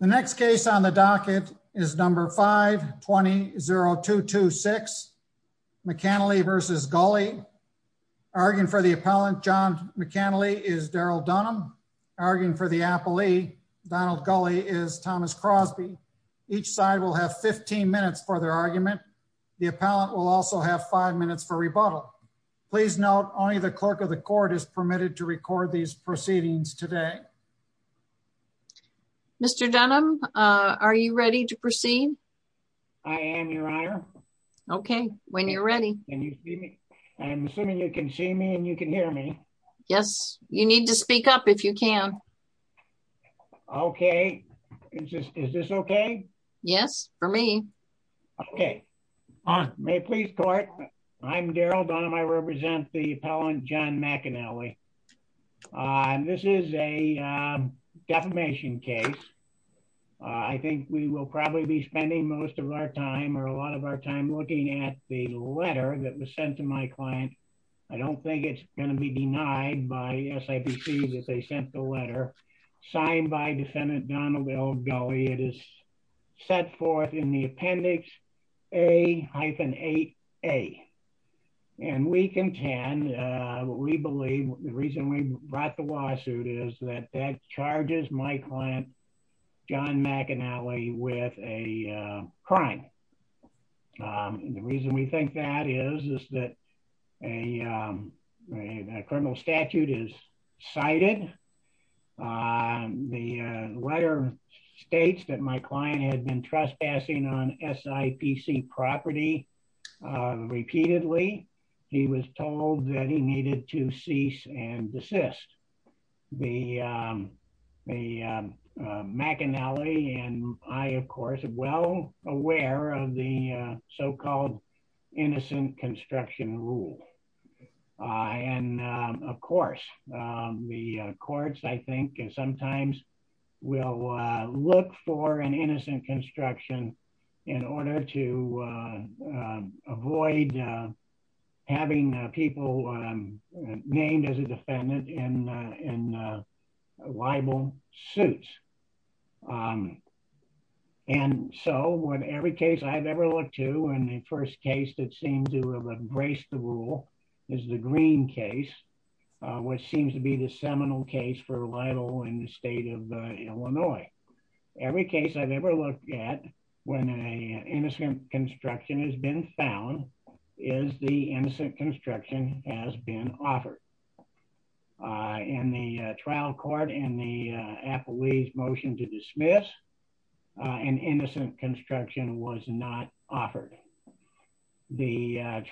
The next case on the docket is number 5 20 0226 McAnally v. Gulley. Arguing for the appellant, John McAnally, is Daryl Dunham. Arguing for the appellee, Donald Gulley, is Thomas Crosby. Each side will have 15 minutes for their argument. The appellant will also have five minutes for rebuttal. Please note only the clerk of the court is permitted to record these proceedings today. Mr. Dunham. Are you ready to proceed? I am your honor. Okay, when you're ready. I'm assuming you can see me and you can hear me. Yes, you need to speak up if you can. Okay. Is this okay? Yes, for me. Okay. May please court. I'm Daryl Dunham. I represent the appellant, John McAnally. And this is a defamation case. I think we will probably be spending most of our time or a lot of our time looking at the letter that was sent to my client. I don't think it's going to be denied by SIPC that they sent the letter signed by defendant Donald L. Gulley. It is set forth in the appendix A-8A. And we contend, we believe the reason we brought the lawsuit is that that charges my client, John McAnally with a crime. The reason we think that is is that a criminal statute is cited. The letter states that my client had been trespassing on SIPC property. Repeatedly, he was told that he needed to cease and desist. The the McAnally and I of course, well aware of the so called innocent construction rule. And of course, the courts I think sometimes will look for an innocent construction in order to avoid having people named as a defendant in in libel suits. And so when every case I've ever looked to and the first case that seems to have embraced the rule is the green case, which seems to be the seminal case for libel in the state of Illinois. Every case I've ever looked at when an innocent construction has been found is the innocent construction has been offered. In the trial court and the appellee's motion to the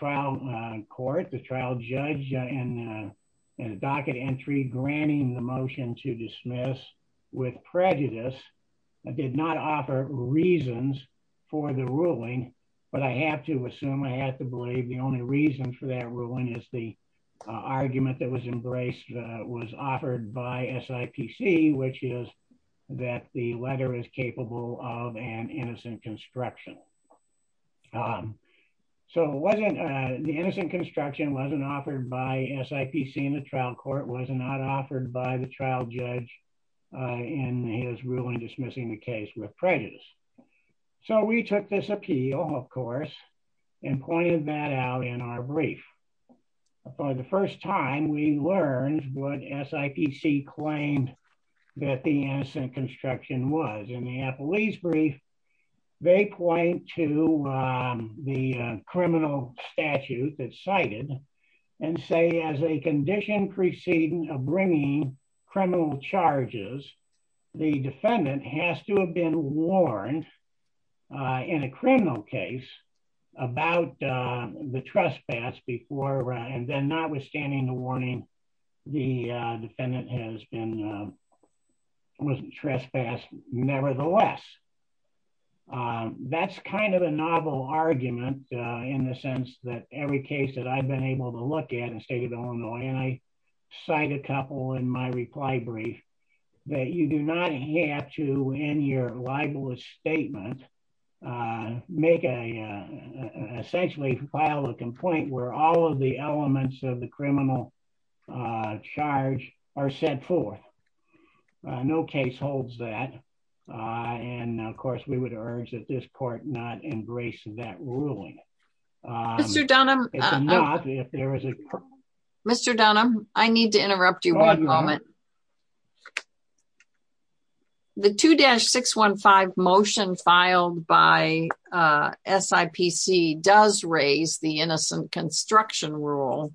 trial court, the trial judge and docket entry granting the motion to dismiss with prejudice did not offer reasons for the ruling. But I have to assume I have to believe the only reason for that ruling is the argument that was embraced was offered by SIPC, which is that the letter is capable of an so wasn't the innocent construction wasn't offered by SIPC in the trial court was not offered by the trial judge in his ruling dismissing the case with prejudice. So we took this appeal, of course, and pointed that out in our brief. For the first time we learned what SIPC claimed that the innocent construction was in the appellee's brief, they point to the criminal statute that cited and say as a condition preceding a bringing criminal charges, the defendant has to have been warned in a criminal case about the trespass before and then not understanding the warning. The defendant has been was trespassed. Nevertheless, that's kind of a novel argument, in the sense that every case that I've been able to look at in the state of Illinois, and I cite a couple in my reply brief, that you do not have to in your libelous statement, make a essentially file a criminal charge or set forth. No case holds that. And of course, we would urge that this court not embrace that ruling. Mr. Dunham, I need to interrupt you one moment. The 2-615 motion filed by SIPC does raise the innocent construction rule.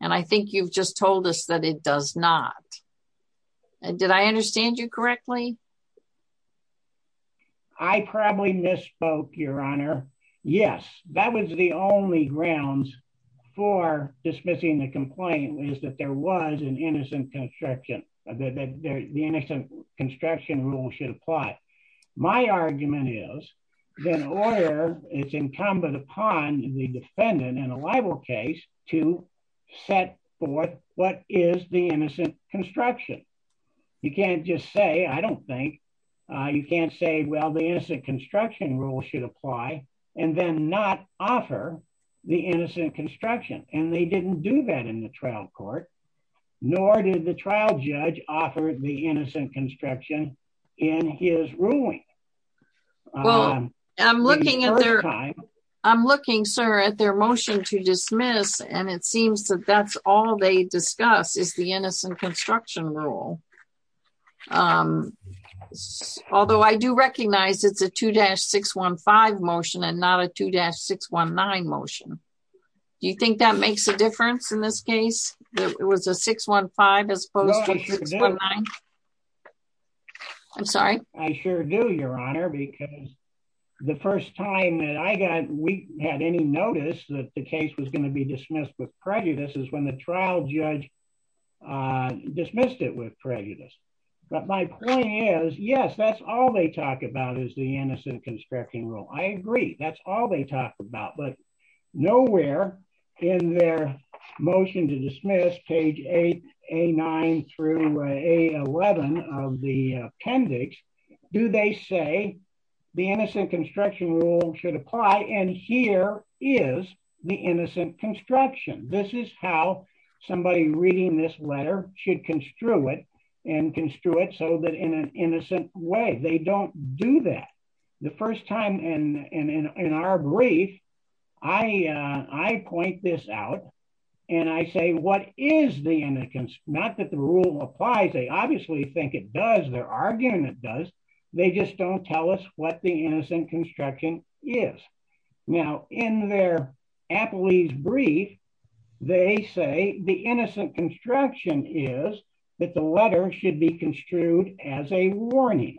And I think you've just told us that it does not. Did I understand you correctly? I probably misspoke, Your Honor. Yes, that was the only grounds for dismissing the complaint was that there was an innocent construction, the innocent construction rule should apply. My argument is that order is incumbent upon the defendant in a libel case to set forth what is the innocent construction. You can't just say, I don't think you can't say, well, the innocent construction rule should apply, and then not offer the innocent construction. And they didn't do that in the trial court. Nor did the trial judge offered the innocent construction in his ruling. I'm looking at their time. I'm looking, sir, at their motion to dismiss. And it seems that that's all they discuss is the innocent construction rule. Although I do recognize it's a 2-615 motion and not a 2-619 motion. Do you think that makes a case? It was a 615 as opposed to 619? I'm sorry. I sure do, Your Honor, because the first time that I got we had any notice that the case was going to be dismissed with prejudice is when the trial judge dismissed it with prejudice. But my point is, yes, that's all they talk about is the innocent construction rule. I agree. That's all they talk about. But nowhere in their motion to dismiss page 8, A-9 through A-11 of the appendix do they say the innocent construction rule should apply. And here is the innocent construction. This is how somebody reading this letter should construe it and they don't do that. The first time in our brief, I point this out. And I say, what is the innocence? Not that the rule applies. They obviously think it does. They're arguing it does. They just don't tell us what the innocent construction is. Now, in their appellee's brief, they say the innocent construction is that the letter should be construed as a warning.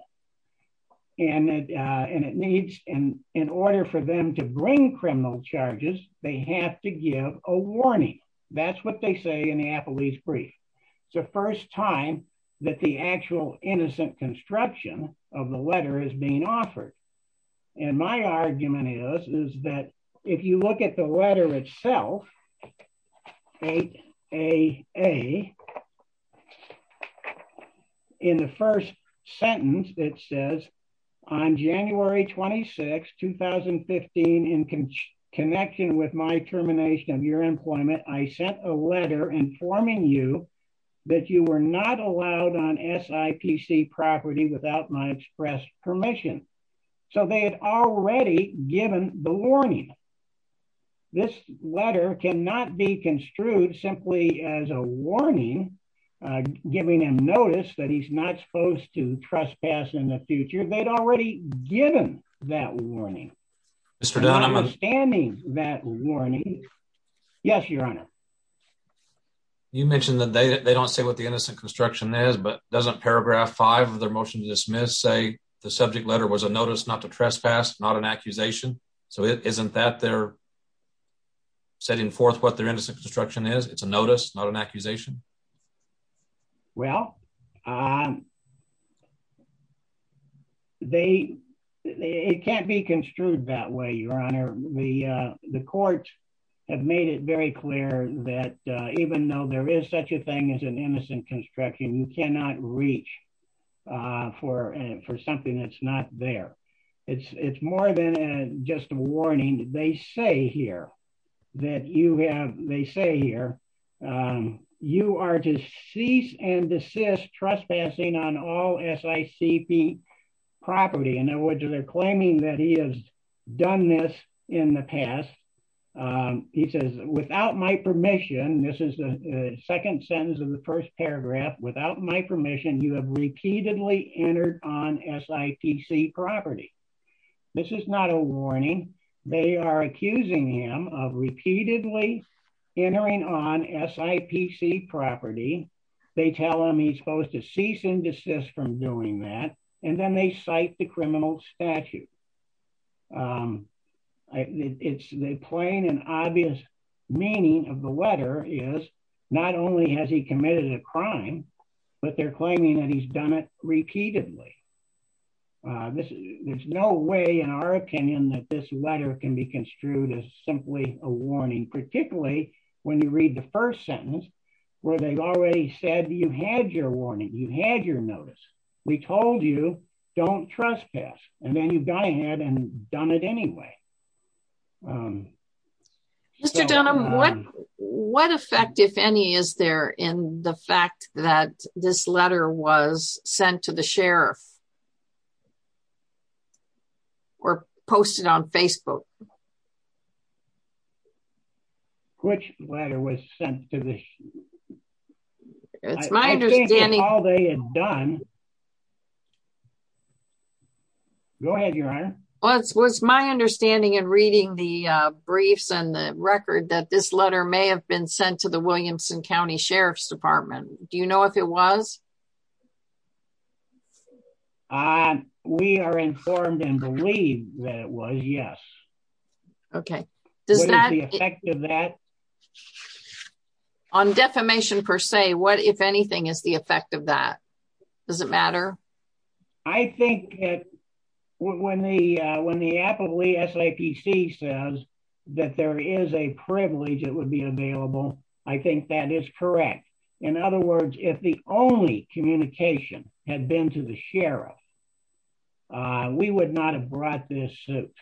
And it needs in order for them to bring criminal charges, they have to give a warning. That's what they say in the appellee's brief. It's the first time that the actual innocent construction of the letter is being offered. And my argument is, is that if you look at the letter itself, 8AA, in the first sentence, it says, on January 26, 2015, in connection with my termination of your employment, I sent a letter informing you that you were not allowed on SIPC property without my express permission. So they had already given the warning. This letter cannot be construed simply as a warning, giving him notice that he's not supposed to trespass in the future. They'd already given that warning. Mr. Dunn, I'm understanding that warning. Yes, Your Honor. You mentioned that they don't say what the innocent construction is, but doesn't paragraph five of their motion to dismiss say the subject letter was a notice not to trespass, not an accusation. So isn't that they're setting forth what their innocent construction is? It's a notice, not an accusation? Well, they, it can't be construed that way, Your Honor. The court have made it very clear that even though there is such a thing as an innocent construction, you cannot reach for something that's not there. It's more than just a warning. They say here that you have, they say here, you are to cease and desist trespassing on all SICP property. In other words, they're claiming that he has done this in the past. He says, without my permission, this is the second sentence of the first paragraph, without my permission, you have repeatedly entered on SIPC property. This is not a warning. They are accusing him of repeatedly entering on SIPC property. They tell him he's supposed to cease and desist from doing that. And then they cite the criminal statute. It's the plain and obvious meaning of the letter is not only has he committed a crime, but they're claiming that he's done it repeatedly. There's no way in our opinion that this letter can be construed as simply a warning, particularly when you read the first sentence, where they've said you had your warning, you had your notice, we told you, don't trespass. And then you've gone ahead and done it anyway. Mr. Dunham, what effect, if any, is there in the fact that this letter was sent to the sheriff? Or posted on Facebook? Which letter was sent to the sheriff? It's my understanding... I think that's all they had done. Go ahead, Your Honor. Well, it was my understanding in reading the briefs and the record that this letter may have been sent to the Williamson County Sheriff's Department. Do you know if it was? We are informed and believe that it was, yes. Okay. Does that... What is the effect of that? On defamation, per se, what, if anything, is the effect of that? Does it matter? I think that when the, when the applicable SAPC says that there is a privilege, it would be communication, had been to the sheriff. We would not have brought this suit,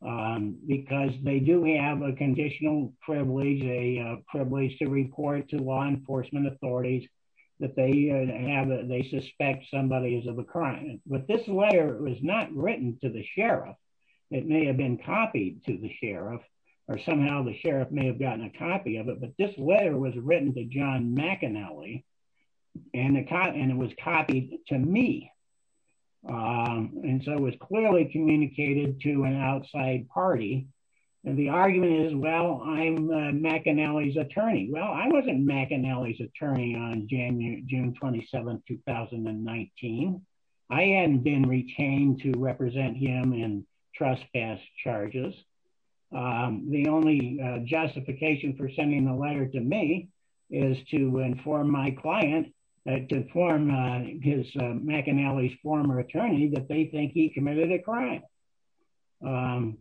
because they do have a conditional privilege, a privilege to report to law enforcement authorities that they have, they suspect somebody is of a crime. But this letter was not written to the sheriff. It may have been copied to the sheriff, or somehow the sheriff may have gotten a copy of it, but this letter was written to John McAnally, and it was copied to me. And so it was clearly communicated to an outside party. And the argument is, well, I'm McAnally's attorney. Well, I wasn't McAnally's attorney on June 27, 2019. I hadn't been retained to represent him in trespass charges. The only justification for writing a letter to me is to inform my client, to inform his, McAnally's former attorney that they think he committed a crime. And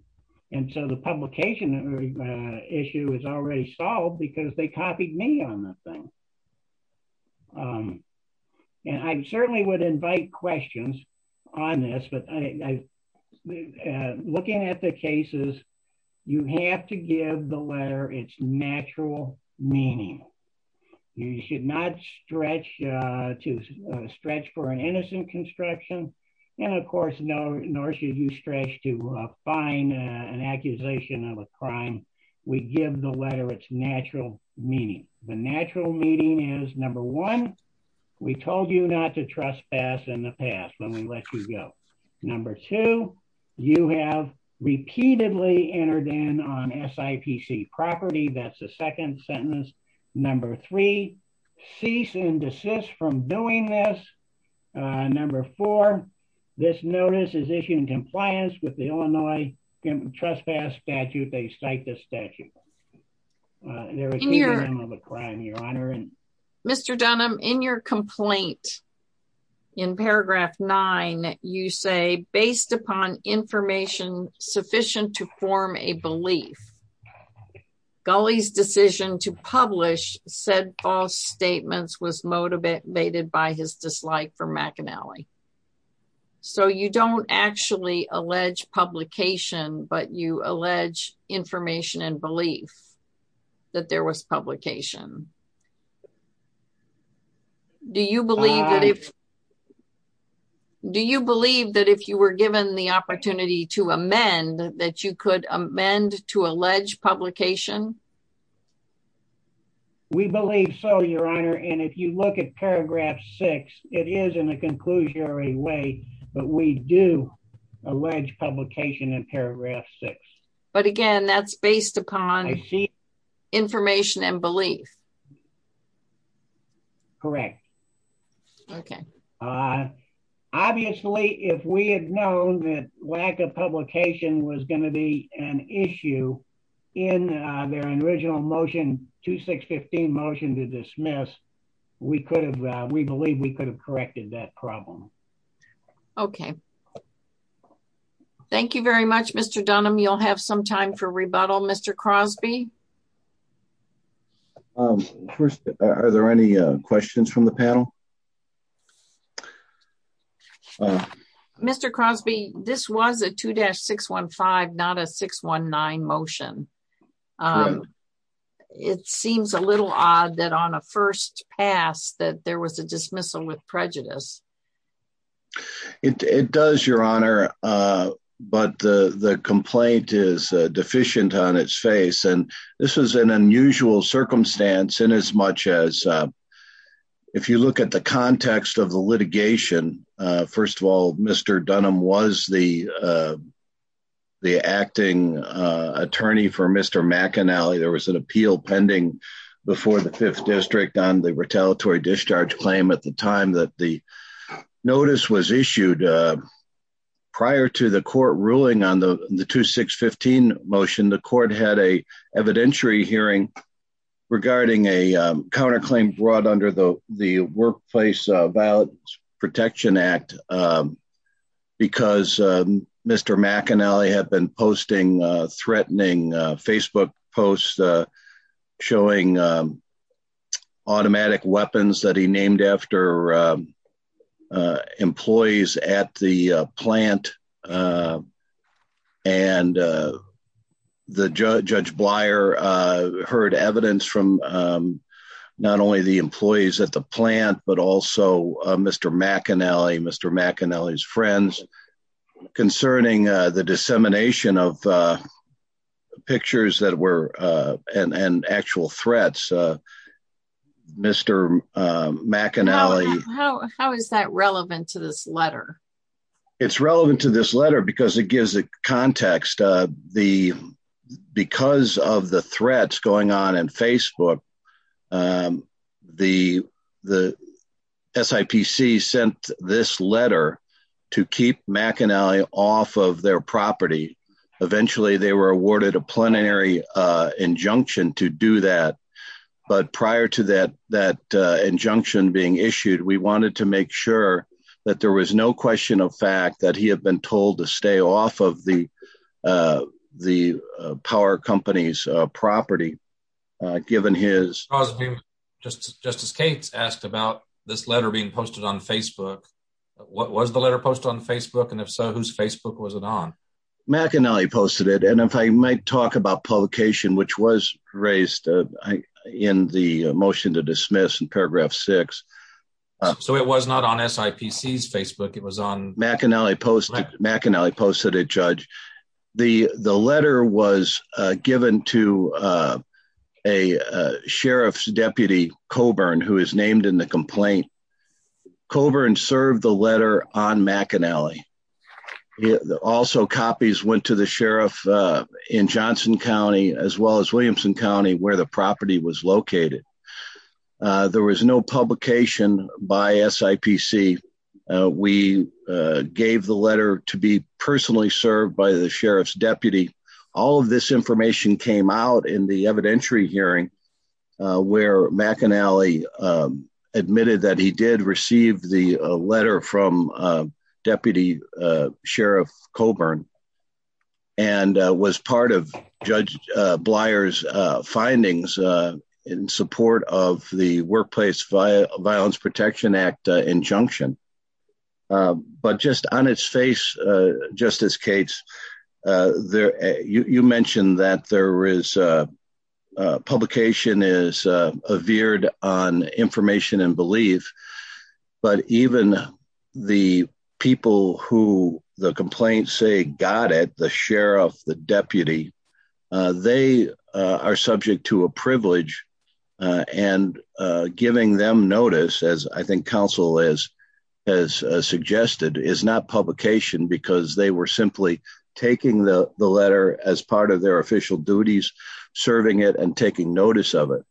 so the publication issue is already solved, because they copied me on the thing. And I certainly would invite questions on this, but I, looking at the cases, you have to give the letter its natural meaning. You should not stretch for an innocent construction, and of course, nor should you stretch to find an accusation of a crime. We give the letter its natural meaning. The natural meaning is, number one, we told you not to trespass in the past when we let you go. Number two, you have repeatedly entered in on SIPC property. That's the second sentence. Number three, cease and desist from doing this. Number four, this notice is issued in compliance with the Illinois trespass statute. They cite this statute. There is no crime, Your Honor. Mr. Dunham, in your complaint, in paragraph nine, you say, based upon information sufficient to form a belief, Gulley's decision to publish said false statements was motivated by his dislike for McAnally. So you don't actually allege publication, but you allege information and belief that there was publication. Do you believe that if you were given the opportunity to amend, that you could amend to allege publication? We believe so, Your Honor, and if you look at paragraph six, it is in a conclusionary way, but we do allege publication in paragraph six. But again, that's based upon information and belief. Correct. Okay. Obviously, if we had known that lack of publication was going to be an issue in their original motion, 2615 motion to dismiss, we believe we could have corrected that problem. Okay. Thank you very much, Mr. Dunham. You'll have some time for rebuttal, Mr. Crosby. Are there any questions from the panel? Mr. Crosby, this was a 2-615, not a 619 motion. It seems a little odd that on a first pass that there was a dismissal with prejudice. It does, Your Honor, but the complaint is deficient on its face and this was an unusual circumstance in as much as if you look at the context of the litigation, first of all, Mr. Dunham was the acting attorney for Mr. McAnally. There was an appeal pending before the fifth district on the retaliatory discharge claim at the time that the notice was issued. Prior to the court ruling on the 2615 motion, the court had an evidentiary hearing regarding a counterclaim brought under the Workplace Violence Protection Act because Mr. McAnally had been posting threatening Facebook posts showing automatic weapons that he named after employees at the plant and Judge Blyer heard evidence from not only the employees at the plant but also Mr. McAnally, Mr. McAnally's friends concerning the dissemination of pictures that were and actual threats. Mr. McAnally... How is that relevant to this letter? It's relevant to this letter because it gives a context. Because of the threats going on in the workplace, SIPC sent this letter to keep McAnally off of their property. Eventually, they were awarded a plenary injunction to do that. But prior to that injunction being issued, we wanted to make sure that there was no question of fact that he had been told to stay off of the power company's property given his... Was the letter posted on Facebook? And if so, whose Facebook was it on? McAnally posted it. And if I might talk about publication, which was raised in the motion to dismiss in paragraph six. So it was not on SIPC's Facebook, it was on... McAnally posted it, Judge. The letter was given to a sheriff's deputy, Coburn, who is named in the complaint. Coburn served the letter on McAnally. Also copies went to the sheriff in Johnson County, as well as Williamson County, where the property was located. There was no publication by SIPC. We gave the letter to be personally served by the sheriff's deputy. All of this information came out in the evidentiary hearing, where McAnally admitted that he did receive the letter from Deputy Sheriff Coburn, and was part of Judge Blyer's findings in support of the Workplace Violence Protection Act injunction. But just on its face, Justice Cates, you mentioned that there is publication is veered on information and belief, but even the people who the complaints say got it, the sheriff, the deputy, they are subject to a privilege. And giving them notice, as I think counsel has suggested, is not publication because they were simply taking the letter as part of their official duties, serving it and taking notice of it.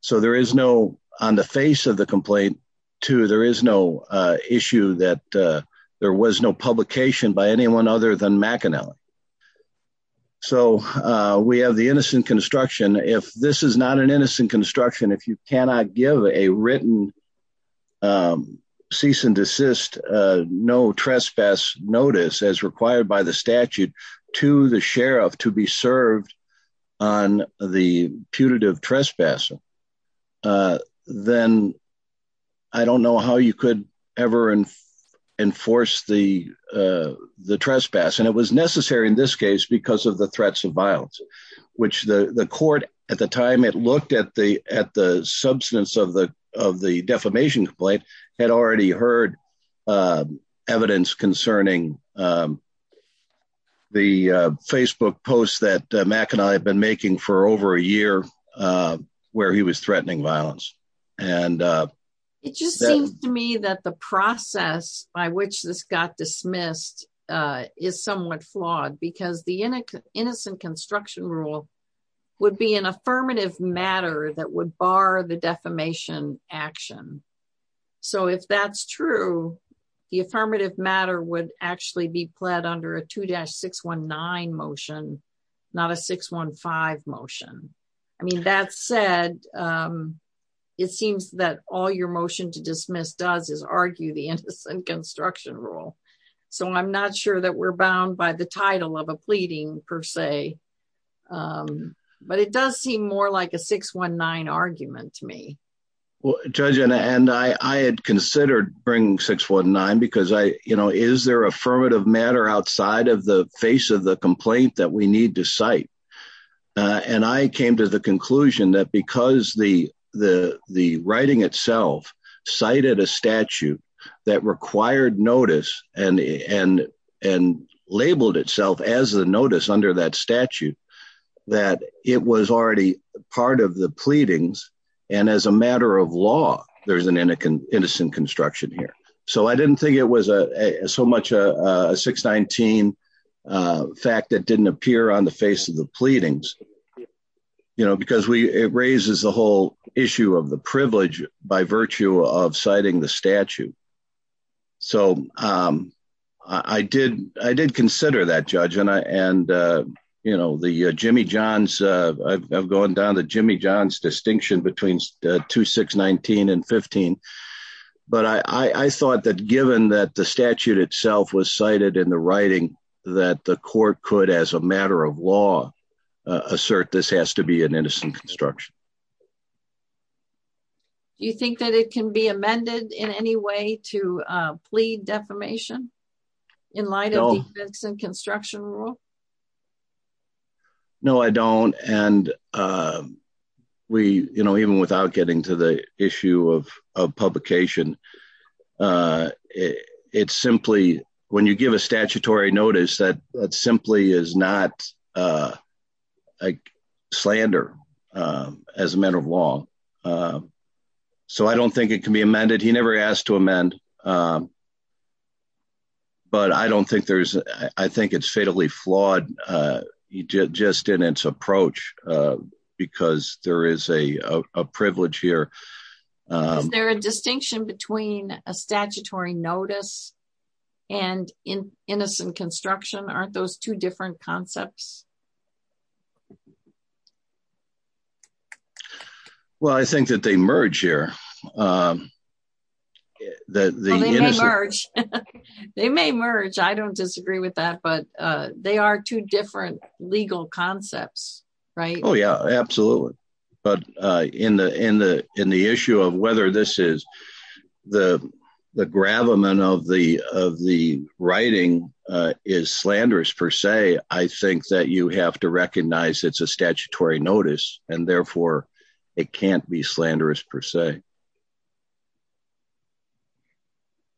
So there is no, on the face of the complaint, too, there is no issue that there was no publication by anyone other than McAnally. So we have the innocent construction. If this is not an innocent construction, if you cannot give a written cease and desist, no trespass notice as required by the statute to the sheriff to be served on the putative trespass, then I don't know how you could ever enforce the the trespass. And it was necessary in this case because of the threats of violence, which the court at the time it looked at the at the substance of the of the defamation complaint had already heard evidence concerning the Facebook posts that McAnally had been making for over a year where he was threatening violence. And it just seems to me that the process by which this got passed in this case, which is the defamation rule, would be an affirmative matter that would bar the defamation action. So if that's true, the affirmative matter would actually be pled under a 2-619 motion, not a 615 motion. I mean, that said, it seems that all your motion to dismiss does is argue the innocent construction rule. So I'm not sure that we're bound by the title of a pleading per se. But it does seem more like a 619 argument to me. Well, Judge, and I had considered bringing 619 because I, you know, is there affirmative matter outside of the face of the complaint that we need to cite? And I came to the conclusion that because the writing itself cited a statute that required notice and labeled itself as the notice under that statute, that it was already part of the pleadings. And as a matter of law, there's an innocent construction here. So I didn't think it was so much a 619 fact that didn't appear on the face of the pleadings, you know, because it raises the whole issue of the privilege by virtue of statute. So I did consider that, Judge. And, you know, the Jimmy John's, I've gone down to Jimmy John's distinction between 2-619 and 15. But I thought that given that the statute itself was cited in the writing, that the court could as a matter of law, assert this has to be an any way to plead defamation in light of defense and construction rule? No, I don't. And we, you know, even without getting to the issue of publication, it's simply when you give a statutory notice that that simply is not a slander, as a matter of law. So I don't think it can be amended. He never asked to amend. But I don't think there's, I think it's fatally flawed, just in its approach, because there is a privilege here. There a distinction between a statutory notice and in innocent construction? Aren't those two concepts? Well, I think that they merge here. They may merge, I don't disagree with that. But they are two different legal concepts, right? Oh, yeah, absolutely. But in the issue of whether this is the gravamen of the writing is slanderous, per se, I think that you have to recognize it's a statutory notice. And therefore, it can't be slanderous per se.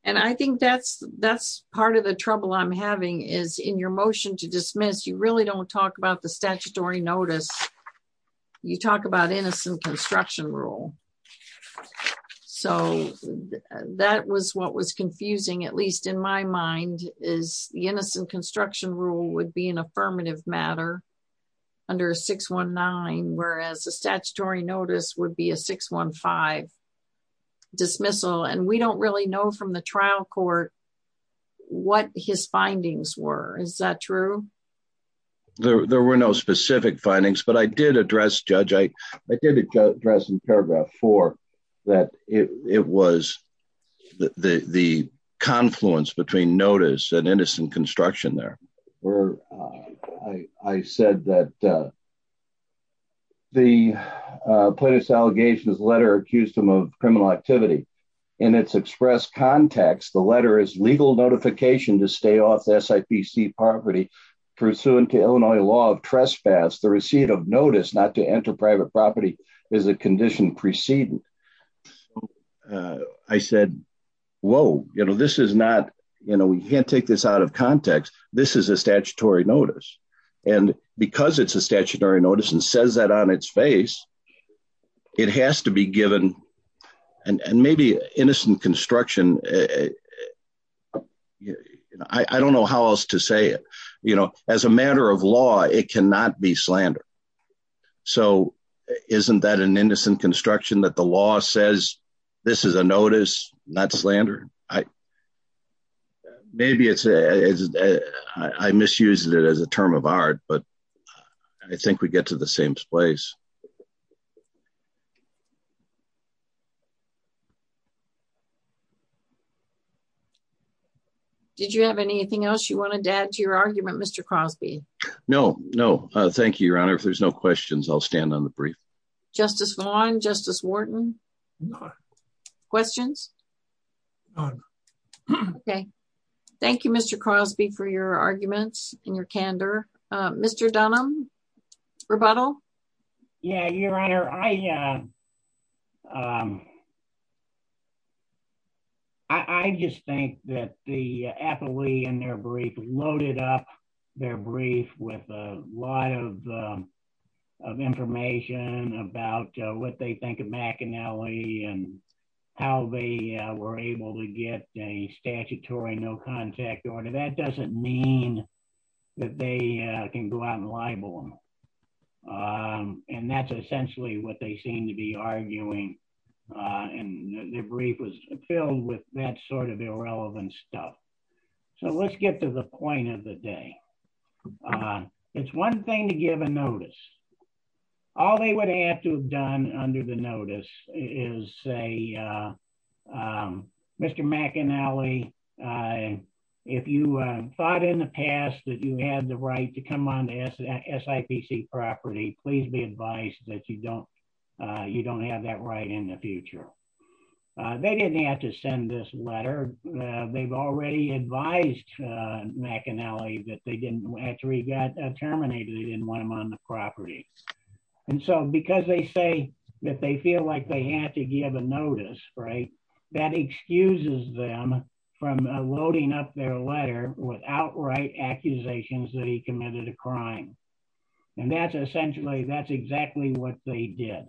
And I think that's, that's part of the trouble I'm having is in your motion to dismiss, you really don't talk about the statutory notice. You talk about innocent construction rule. And so that was what was confusing, at least in my mind is the innocent construction rule would be an affirmative matter under 619, whereas a statutory notice would be a 615 dismissal. And we don't really know from the trial court, what his findings were. Is that true? There were no specific findings. But I did address, Judge, I did address in paragraph four, that it was the confluence between notice and innocent construction there, where I said that the plaintiff's allegations letter accused him of criminal activity. In its express context, the letter is legal notification to stay off the SIPC property, pursuant to Illinois law of trespass, the receipt of notice not to enter private property is a condition precedent. I said, Whoa, you know, this is not, you know, we can't take this out of context, this is a statutory notice. And because it's a statutory notice and says that on its face, it has to be given. And maybe innocent construction. I don't know how else to say it, you know, as a matter of law, it cannot be slander. So isn't that an innocent construction that the law says, this is a notice, not slander. I maybe it's a I misused it as a term of art, but I think we get to the same place. Did you have anything else you wanted to add to your argument, Mr. Crosby? No, no. Thank you, Your Honor. If there's no questions, I'll stand on the brief. Justice Vaughn, Justice Wharton. Questions? Okay. Thank you, Mr. Crosby, for your arguments and your candor. Mr. Dunham, rebuttal. Yeah, Your Honor, I just think that the appellee and their brief loaded up their brief with a lot of information about what they think of McAnally and how they were able to get a statutory no order. That doesn't mean that they can go out and libel them. And that's essentially what they seem to be arguing. And the brief was filled with that sort of irrelevant stuff. So let's get to the point of the day. It's one thing to give a notice. All they would have to have done under the notice is say, Mr. McAnally, if you thought in the past that you had the right to come on the SIPC property, please be advised that you don't have that right in the future. They didn't have to send this letter. They've already advised McAnally that they didn't actually get terminated. They didn't want him on the property. And so because they say that they feel like they have to give a notice, that excuses them from loading up their letter with outright accusations that he committed a crime. And that's essentially, that's exactly what they did.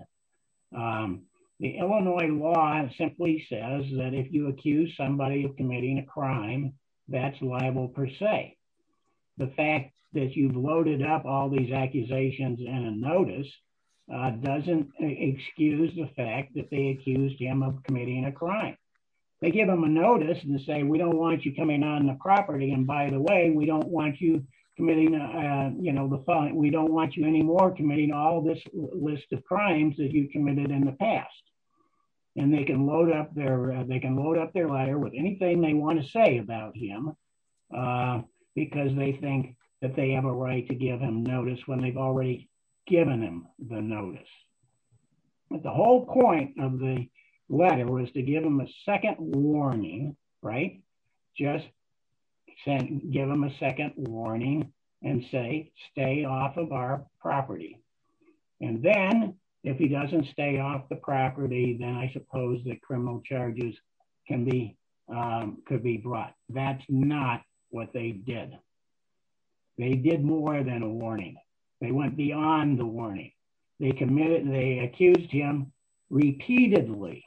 The Illinois law simply says that if you accuse somebody of committing a crime, that's liable per se. The fact that you've loaded up all these accusations and a notice doesn't excuse the fact that they accused him of committing a crime. They give him a notice and say, we don't want you coming on the property. And by the way, we don't want you committing, you know, we don't want you anymore committing all this list of crimes that you committed in the past. And they can load up their letter with anything they want to say about him because they think that they have a right to give him notice when they've already given him the notice. But the whole point of the letter was to give him a second warning, right? Just give him a second warning and say, stay off of our property. And then if he doesn't stay off the property, then I suppose that criminal charges can be, could be brought. That's not what they did. They did more than a warning. They went beyond the warning. They committed, they accused him repeatedly,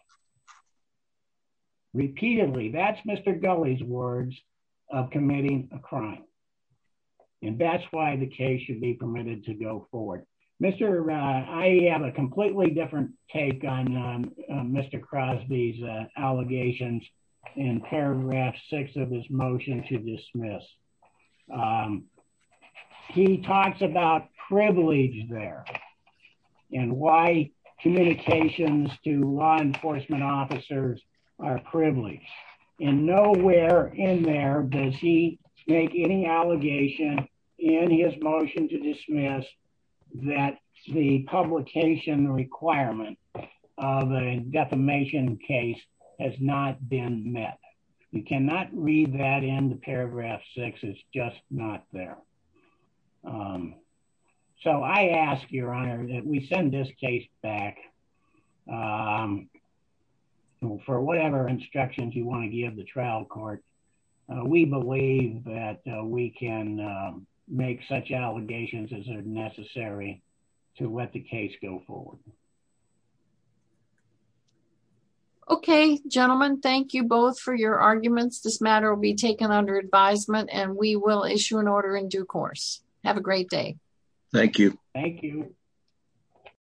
repeatedly. That's Mr. Gulley's words of committing a crime. And that's why the case should be permitted to go forward. Mr. I have a completely different take on Mr. Crosby's allegations in paragraph six of his motion to dismiss. He talks about privilege there and why communications to law enforcement officers are privileged. And nowhere in there does he make any allegation in his motion to dismiss that the publication requirement of a defamation case has not been met. You cannot read that in the paragraph six. It's just not there. So I ask your honor that we send this case back for whatever instructions you want to give the trial court. We believe that we can make such allegations as are necessary to let the case go forward. Okay, gentlemen, thank you both for your arguments. This matter will be taken under advisement and we will issue an order in due course. Have a great day. Thank you. Thank you.